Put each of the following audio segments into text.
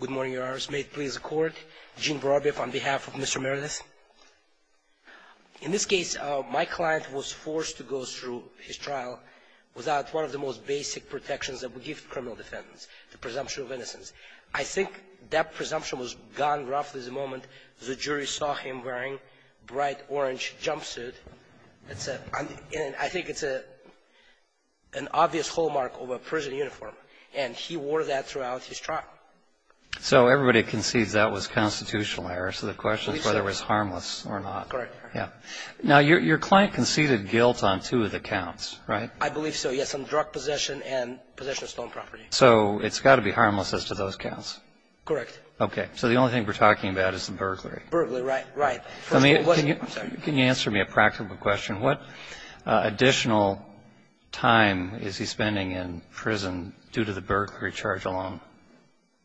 Good morning, Your Honors. May it please the Court, Gene Vorobiev on behalf of Mr. Meredith. In this case, my client was forced to go through his trial without one of the most basic protections that we give criminal defendants, the presumption of innocence. I think that presumption was gone roughly the moment the jury saw him wearing a bright orange jumpsuit. I think it's an error, and he wore that throughout his trial. So everybody concedes that was constitutional error, so the question is whether it was harmless or not. Correct. Yeah. Now, your client conceded guilt on two of the counts, right? I believe so, yes, on drug possession and possession of stolen property. So it's got to be harmless as to those counts. Correct. Okay. So the only thing we're talking about is the burglary. Burglary, right. Right. I mean, can you answer me a practical question? What additional time is he spending in prison due to the burglary charge alone?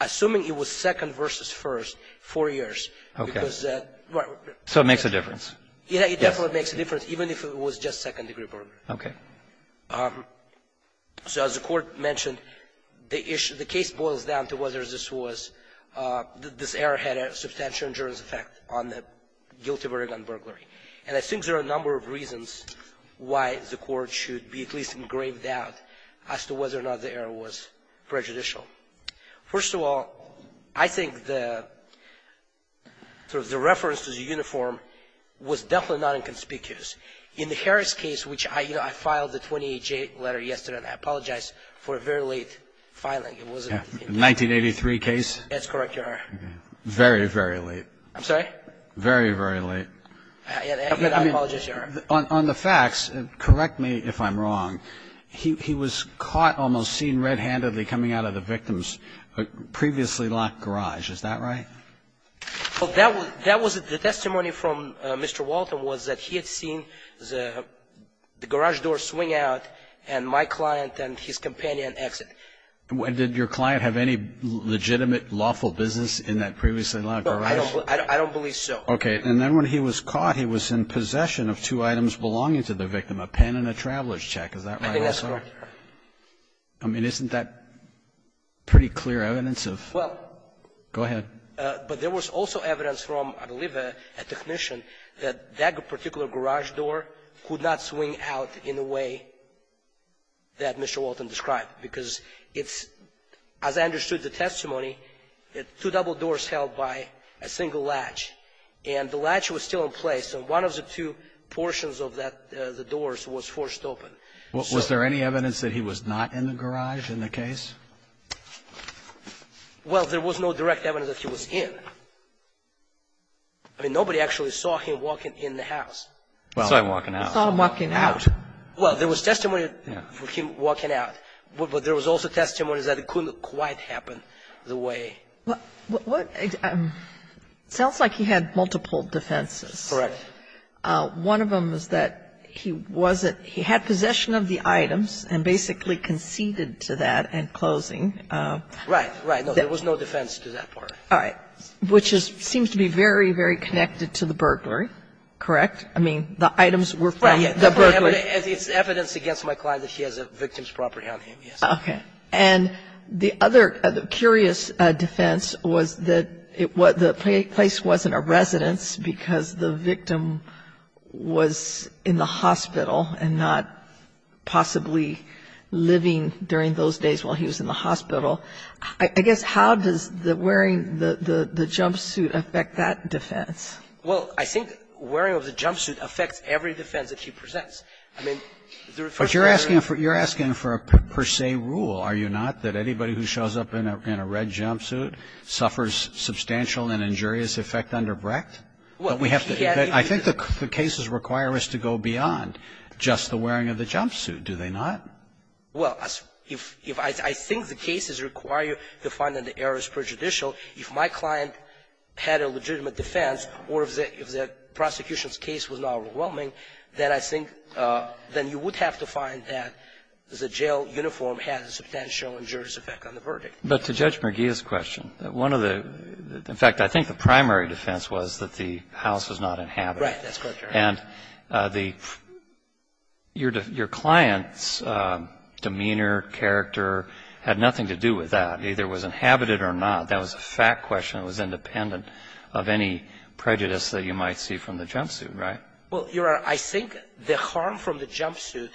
Assuming it was second versus first, four years, because that was the question. So it makes a difference. Yes, it definitely makes a difference, even if it was just second-degree burglary. Okay. So as the Court mentioned, the issue of the case boils down to whether this was, this error had a substantial injurious effect on the guilty verdict on burglary. And I think there are a number of reasons why the Court should be at least engraved out as to whether or not the error was prejudicial. First of all, I think the sort of the reference to the uniform was definitely not inconspicuous. In the Harris case, which I, you know, I filed the 28-J letter yesterday, and I apologize for a very late filing. It wasn't in 1983. The 1983 case? That's correct, Your Honor. Very, very late. I'm sorry? Very, very late. I apologize, Your Honor. On the facts, correct me if I'm wrong, he was caught, almost seen red-handedly coming out of the victim's previously locked garage. Is that right? That was the testimony from Mr. Walton was that he had seen the garage door swing out and my client and his companion exit. Did your client have any legitimate lawful business in that previously locked garage? I don't believe so. Okay. And then when he was caught, he was in possession of two items belonging to the victim, a pen and a traveler's check. Is that right? I think that's correct, Your Honor. I mean, isn't that pretty clear evidence of? Well. Go ahead. But there was also evidence from, I believe, a technician, that that particular garage door could not swing out in the way that Mr. Walton described, because it's, as I understood the testimony, two double doors held by a single latch. And the latch was still in place. And one of the two portions of the doors was forced open. Was there any evidence that he was not in the garage in the case? Well, there was no direct evidence that he was in. I mean, nobody actually saw him walking in the house. Saw him walking out. Saw him walking out. Well, there was testimony of him walking out. But there was also testimony that it couldn't quite happen the way. What? Sounds like he had multiple defenses. Correct. One of them was that he wasn't he had possession of the items and basically conceded to that in closing. Right. Right. No, there was no defense to that part. All right. Which seems to be very, very connected to the burglary. Correct? I mean, the items were from the burglary. It's evidence against my client that she has a victim's property on him. Yes. Okay. And the other curious defense was that the place wasn't a residence because the victim was in the hospital and not possibly living during those days while he was in the hospital. I guess how does the wearing the jumpsuit affect that defense? Well, I think wearing of the jumpsuit affects every defense that he presents. I mean, the first part of it is... But you're asking for a per se rule, are you not? That anybody who shows up in a red jumpsuit suffers substantial and injurious effect under Brecht? Well, he had... I think the cases require us to go beyond just the wearing of the jumpsuit. Do they not? Well, I think the cases require you to find that the error is prejudicial. If my client had a legitimate defense or if the prosecution's case was not overwhelming, then I think then you would have to find that the jail uniform has a substantial injurious effect on the verdict. But to Judge Merguia's question, one of the... In fact, I think the primary defense was that the house was not inhabited. Right. That's correct, Your Honor. And your client's demeanor, character had nothing to do with that. Either it was inhabited or not. That was a fact question. It was independent of any prejudice that you might see from the jumpsuit. Right? Well, Your Honor, I think the harm from the jumpsuit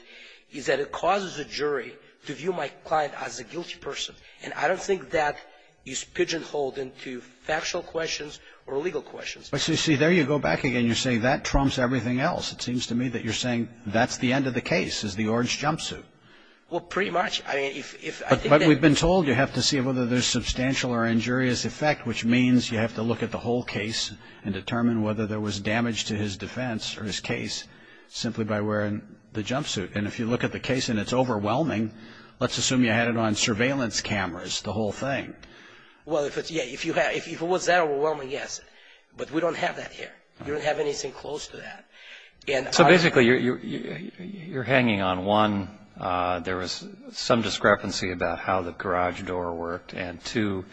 is that it causes a jury to view my client as a guilty person. And I don't think that is pigeonholed into factual questions or legal questions. See, there you go back again. You're saying that trumps everything else. It seems to me that you're saying that's the end of the case is the orange jumpsuit. Well, pretty much. I mean, if... I've been told you have to see whether there's substantial or injurious effect, which means you have to look at the whole case and determine whether there was damage to his defense or his case simply by wearing the jumpsuit. And if you look at the case and it's overwhelming, let's assume you had it on surveillance cameras, the whole thing. Well, if it's... Yeah, if it was that overwhelming, yes. But we don't have that here. We don't have anything close to that. So basically, you're hanging on one... the garage door worked and two,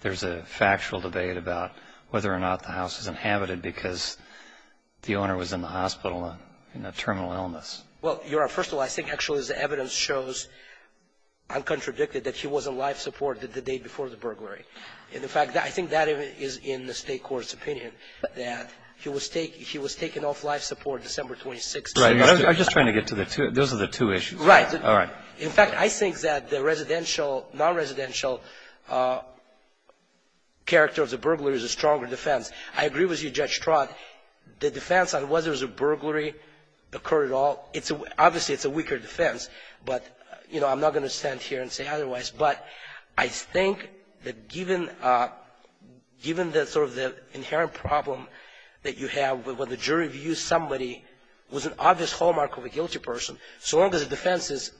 there's a factual debate about whether or not the house is inhabited because the owner was in the hospital in a terminal illness. Well, Your Honor, first of all, I think actually as the evidence shows, I'm contradicted that he wasn't life-supported the day before the burglary. In fact, I think that is in the State Court's opinion that he was taken off life-support December 26th. Right. I'm just trying to get to the two... Those are the two issues. Right. All right. In fact, I think that the residential, non-residential character of the burglary is a stronger defense. I agree with you, Judge Stroud. The defense on whether it was a burglary occurred at all, obviously, it's a weaker defense. But, you know, I'm not going to stand here and say otherwise. But I think that given the sort of the inherent problem that you have when the jury views somebody was an obvious hallmark of a guilty person, so long as the defense is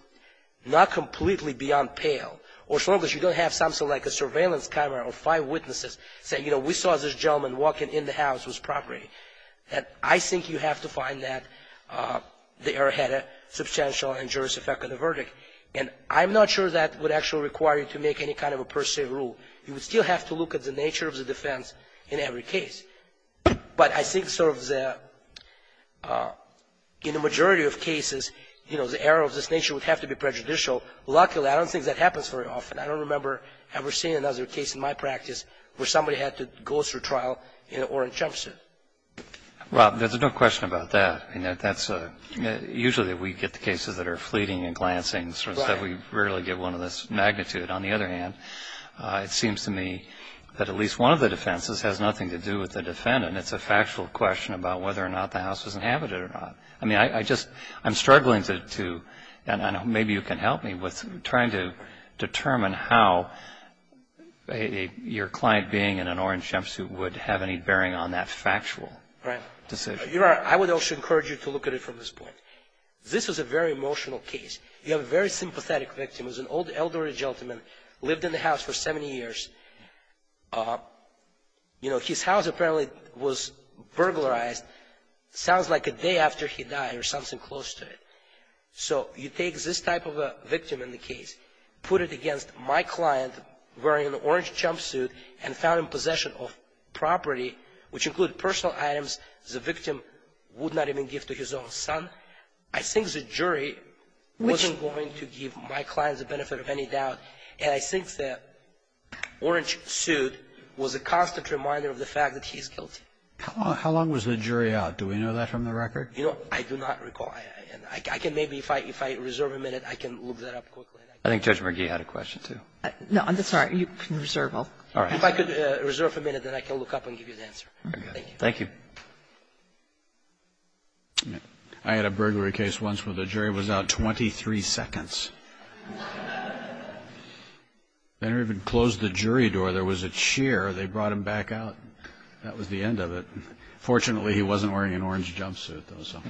not completely beyond pale, or so long as you don't have something like a surveillance camera or five witnesses saying, you know, we saw this gentleman walking in the house with property, that I think you have to find that the error had a substantial and injurious effect on the verdict. And I'm not sure that would actually require you to make any kind of a per se rule. You would still have to look at the nature of the defense in every case. But I think sort of the – in the majority of cases, you know, the error of this nature would have to be prejudicial. Luckily, I don't think that happens very often. I don't remember ever seeing another case in my practice where somebody had to go through trial in an orange jumpsuit. Well, there's no question about that. That's a – usually we get the cases that are fleeting and glancing. Right. We rarely get one of this magnitude. On the other hand, it seems to me that at least one of the defenses has nothing to do with the defendant. It's a factual question about whether or not the house was inhabited or not. I mean, I just – I'm struggling to – and maybe you can help me with trying to determine how your client being in an orange jumpsuit would have any bearing on that factual decision. Right. I would also encourage you to look at it from this point. This is a very emotional case. You have a very sympathetic victim. He's an old elderly gentleman, lived in the house for 70 years. You know, his house apparently was burglarized sounds like a day after he died or something close to it. So you take this type of a victim in the case, put it against my client wearing an orange jumpsuit and found in possession of property, which include personal items the victim would not even give to his own son. I think the jury wasn't going to give my client the benefit of any doubt. And I think that orange suit was a constant reminder of the fact that he's guilty. How long was the jury out? Do we know that from the record? You know, I do not recall. I can maybe, if I reserve a minute, I can look that up quickly. I think Judge McGee had a question, too. No, I'm sorry. You can reserve. If I could reserve a minute, then I can look up and give you the answer. Thank you. Thank you. I had a burglary case once where the jury was out 23 seconds. They never even closed the jury door. There was a cheer. They brought him back out. That was the end of it. Fortunately, he wasn't wearing an orange jumpsuit, though, so.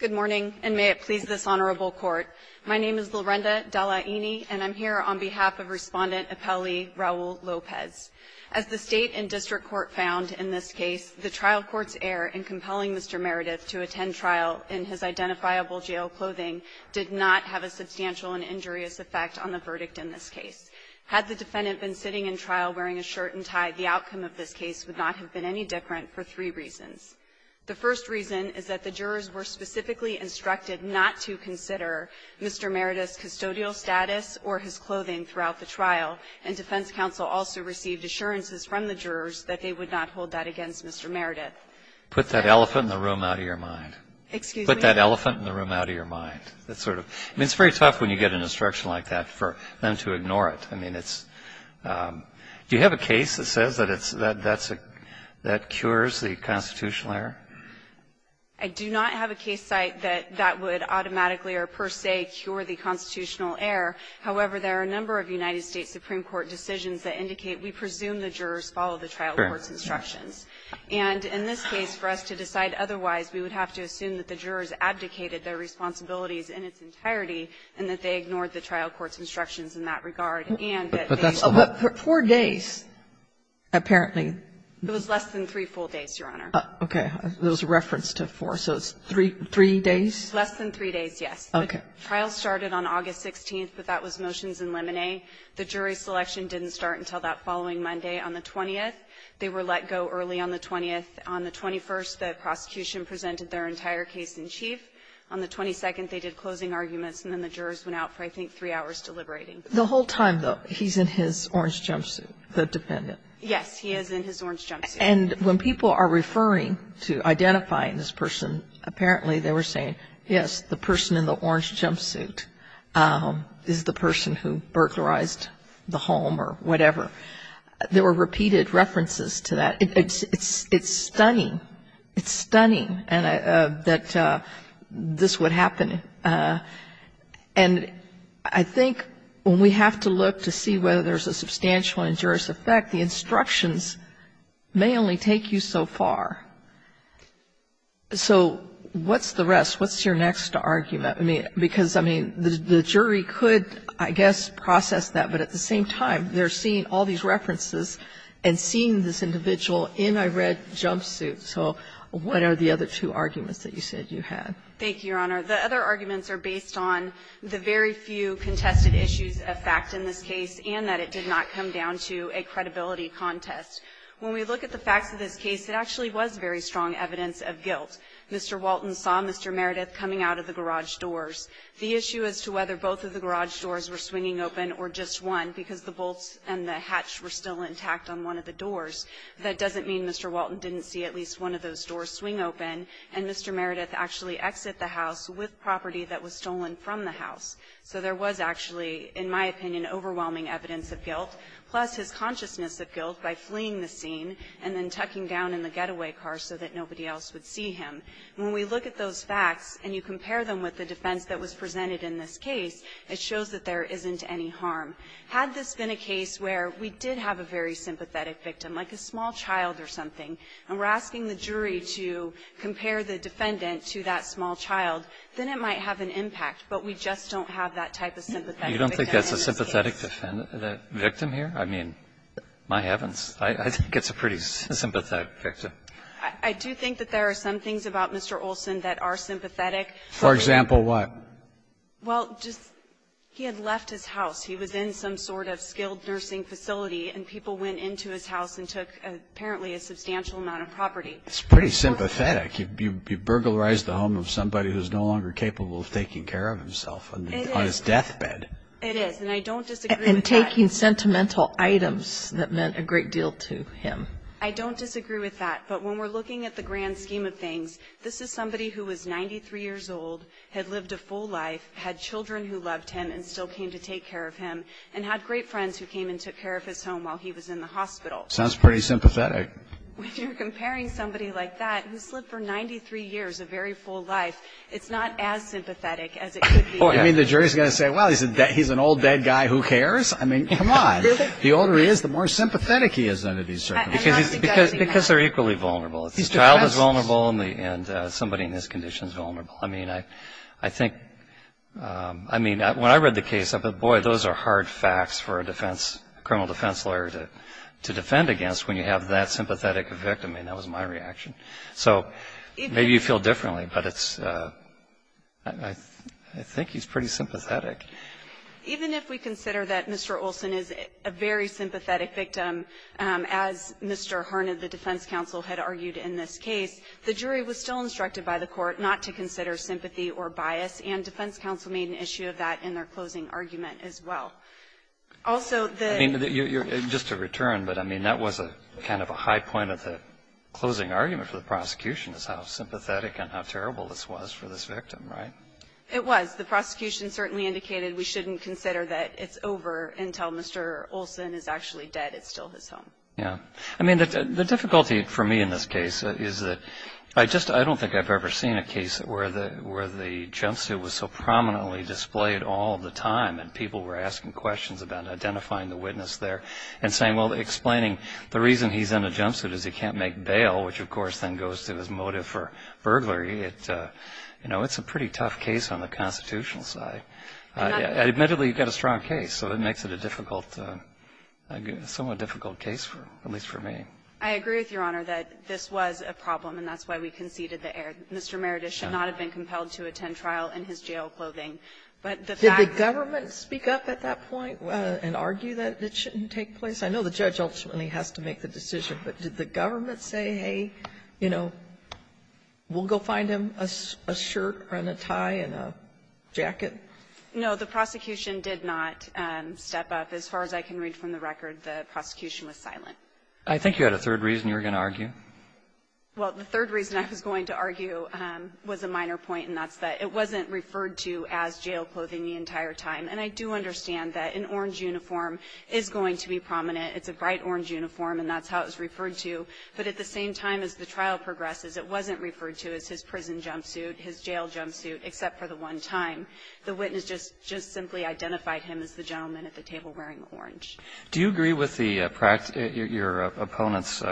Good morning, and may it please this Honorable Court. My name is Lorenda Dallaini, and I'm here on behalf of Respondent Appellee Raul Lopez. As the State and District Court found in this case, the trial court's error in compelling Mr. Meredith to attend trial in his identifiable jail clothing did not have a substantial and injurious effect on the verdict in this case. Had the defendant been sitting in trial wearing a shirt and tie, the outcome of this case would not have been any different for three reasons. The first reason is that the jurors were specifically instructed not to consider Mr. Meredith's custodial status or his clothing throughout the trial, and defense counsel also received assurances from the jurors that they would not hold that against Mr. Meredith. Put that elephant in the room out of your mind. Excuse me? Put that elephant in the room out of your mind. I mean, it's very tough when you get an instruction like that for them to ignore it. I mean, it's do you have a case that says that that cures the constitutional error? I do not have a case site that that would automatically or per se cure the constitutional error. However, there are a number of United States Supreme Court decisions that indicate we presume the jurors follow the trial court's instructions. And in this case, for us to decide otherwise, we would have to assume that the jurors abdicated their responsibilities in its entirety, and that they ignored the trial court's instructions in that regard, and that they did not. Four days, apparently. It was less than three full days, Your Honor. Okay. There was a reference to four. So it's three days? Less than three days, yes. Okay. The trial started on August 16th, but that was motions in limine. The jury selection didn't start until that following Monday on the 20th. They were let go early on the 20th. On the 21st, the prosecution presented their entire case in chief. On the 22nd, they did closing arguments, and then the jurors went out for, I think, three hours deliberating. The whole time, though, he's in his orange jumpsuit, the defendant? Yes, he is in his orange jumpsuit. And when people are referring to identifying this person, apparently they were saying, yes, the person in the orange jumpsuit is the person who burglarized the home or whatever. There were repeated references to that. It's stunning. It's stunning that this would happen. And I think when we have to look to see whether there's a substantial injurious effect, the instructions may only take you so far. So what's the rest? What's your next argument? I mean, because, I mean, the jury could, I guess, process that, but at the same time, they're seeing all these references and seeing this individual in a red jumpsuit. So what are the other two arguments that you said you had? Thank you, Your Honor. The other arguments are based on the very few contested issues of fact in this case and that it did not come down to a credibility contest. When we look at the facts of this case, it actually was very strong evidence of guilt. Mr. Walton saw Mr. Meredith coming out of the garage doors. The issue as to whether both of the garage doors were swinging open or just one, because the bolts and the hatch were still intact on one of the doors, that doesn't mean Mr. Walton didn't see at least one of those doors swing open and Mr. Meredith actually exit the house with property that was stolen from the house. Plus, his consciousness of guilt by fleeing the scene and then tucking down in the getaway car so that nobody else would see him. When we look at those facts and you compare them with the defense that was presented in this case, it shows that there isn't any harm. Had this been a case where we did have a very sympathetic victim, like a small child or something, and we're asking the jury to compare the defendant to that small child, then it might have an impact, but we just don't have that type of sympathetic victim in this case. I don't think that's a sympathetic victim here. I mean, my heavens. I think it's a pretty sympathetic victim. I do think that there are some things about Mr. Olson that are sympathetic. For example, what? Well, just he had left his house. He was in some sort of skilled nursing facility, and people went into his house and took apparently a substantial amount of property. It's pretty sympathetic. You've burglarized the home of somebody who is no longer capable of taking care of himself on his deathbed. It is, and I don't disagree with that. And taking sentimental items that meant a great deal to him. I don't disagree with that, but when we're looking at the grand scheme of things, this is somebody who was 93 years old, had lived a full life, had children who loved him and still came to take care of him, and had great friends who came and took care of his home while he was in the hospital. Sounds pretty sympathetic. When you're comparing somebody like that who's lived for 93 years, a very full life, it's not as sympathetic as it could be. You mean the jury is going to say, well, he's an old, dead guy, who cares? I mean, come on. The older he is, the more sympathetic he is. Because they're equally vulnerable. The child is vulnerable, and somebody in his condition is vulnerable. I mean, when I read the case, I thought, boy, those are hard facts for a criminal defense lawyer to defend against when you have that sympathetic victim. And that was my reaction. So maybe you feel differently, but it's, I think he's pretty sympathetic. Even if we consider that Mr. Olson is a very sympathetic victim, as Mr. Harned, the defense counsel, had argued in this case, the jury was still instructed by the court not to consider sympathy or bias, and defense counsel made an issue of that in their closing argument as well. Also, the... I mean, just to return, but I mean, that was kind of a high point of the argument for the prosecution, is how sympathetic and how terrible this was for this victim, right? It was. The prosecution certainly indicated we shouldn't consider that it's over until Mr. Olson is actually dead. It's still his home. Yeah. I mean, the difficulty for me in this case is that I just, I don't think I've ever seen a case where the jumpsuit was so prominently displayed all the time, and people were asking questions about identifying the witness there, and saying, well, explaining the reason he's in a jumpsuit is he can't make bail, which, of course, then goes to his motive for burglary. You know, it's a pretty tough case on the constitutional side. Admittedly, you've got a strong case, so it makes it a difficult, somewhat difficult case, at least for me. I agree with Your Honor that this was a problem, and that's why we conceded the error. Mr. Meredith should not have been compelled to attend trial in his jail clothing. But the fact... Did the government speak up at that point and argue that it shouldn't take place? I know the judge ultimately has to make the decision, but did the government say, hey, you know, we'll go find him a shirt and a tie and a jacket? No, the prosecution did not step up. As far as I can read from the record, the prosecution was silent. I think you had a third reason you were going to argue. Well, the third reason I was going to argue was a minor point, and that's that it wasn't referred to as jail clothing the entire time. And I do understand that an orange uniform is going to be prominent. It's a bright orange uniform, and that's how it was referred to. But at the same time as the trial progresses, it wasn't referred to as his prison jumpsuit, his jail jumpsuit, except for the one time. The witness just simply identified him as the gentleman at the table wearing the orange. Do you agree with your opponent's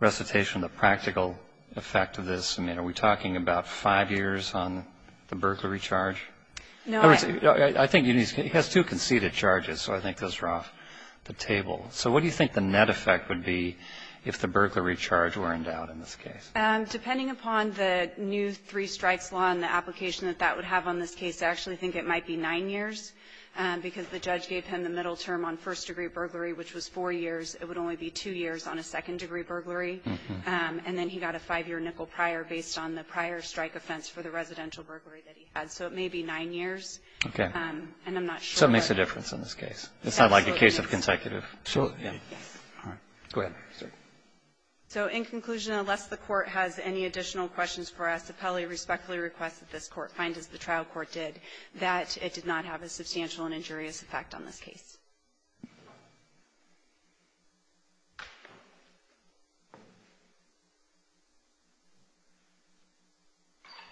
recitation of the practical effect of this? I mean, are we talking about five years on the burglary charge? No, I... I think he has two conceded charges, so I think those are off the table. So what do you think the net effect would be if the burglary charge were endowed in this case? Depending upon the new three strikes law and the application that that would have on this case, I actually think it might be nine years, because the judge gave him the middle term on first degree burglary, which was four years. It would only be two years on a second degree burglary. And then he got a five-year nickel prior based on the prior strike offense for the residential burglary that he had. So it may be nine years. Okay. And I'm not sure... So it makes a difference in this case. Absolutely. It's not like a case of consecutive... Absolutely. Yes. All right. Go ahead, sir. So in conclusion, unless the Court has any additional questions for us, Appelli respectfully requests that this Court find, as the trial court did, that it did not have a substantial and injurious effect on this case.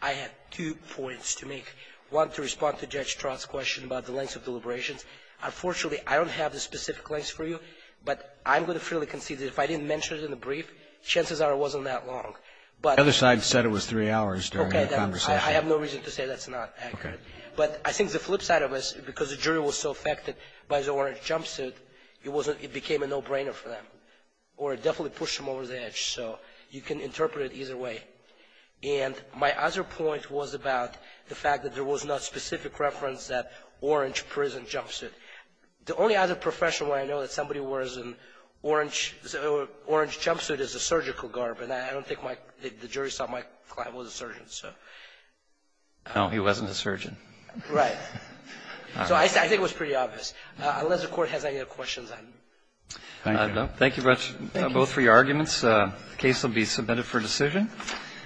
I have two points to make. One, to respond to Judge Trott's question about the lengths of deliberations. Unfortunately, I don't have the specific lengths for you, but I'm going to freely concede that if I didn't mention it in the brief, chances are it wasn't that long. But... The other side said it was three hours during the conversation. Okay. I have no reason to say that's not accurate. Okay. ordinance, I think it's fair to say that it was three hours. And my other point was about the fact that there was no specific reference that orange prison jumpsuit. The only other profession where I know that somebody wears an orange jumpsuit is a surgical guard. But I don't think the jury saw my client was a surgeon. So... No, he wasn't a surgeon. Thank you. Thank you. Thank you. Thank you. Thank you. Thank you. Thank you. Thank you. Thank you. Does the Court have any other questions? No. Thank you both for your arguments. The case will be submitted for decision. Thank you. Thank you.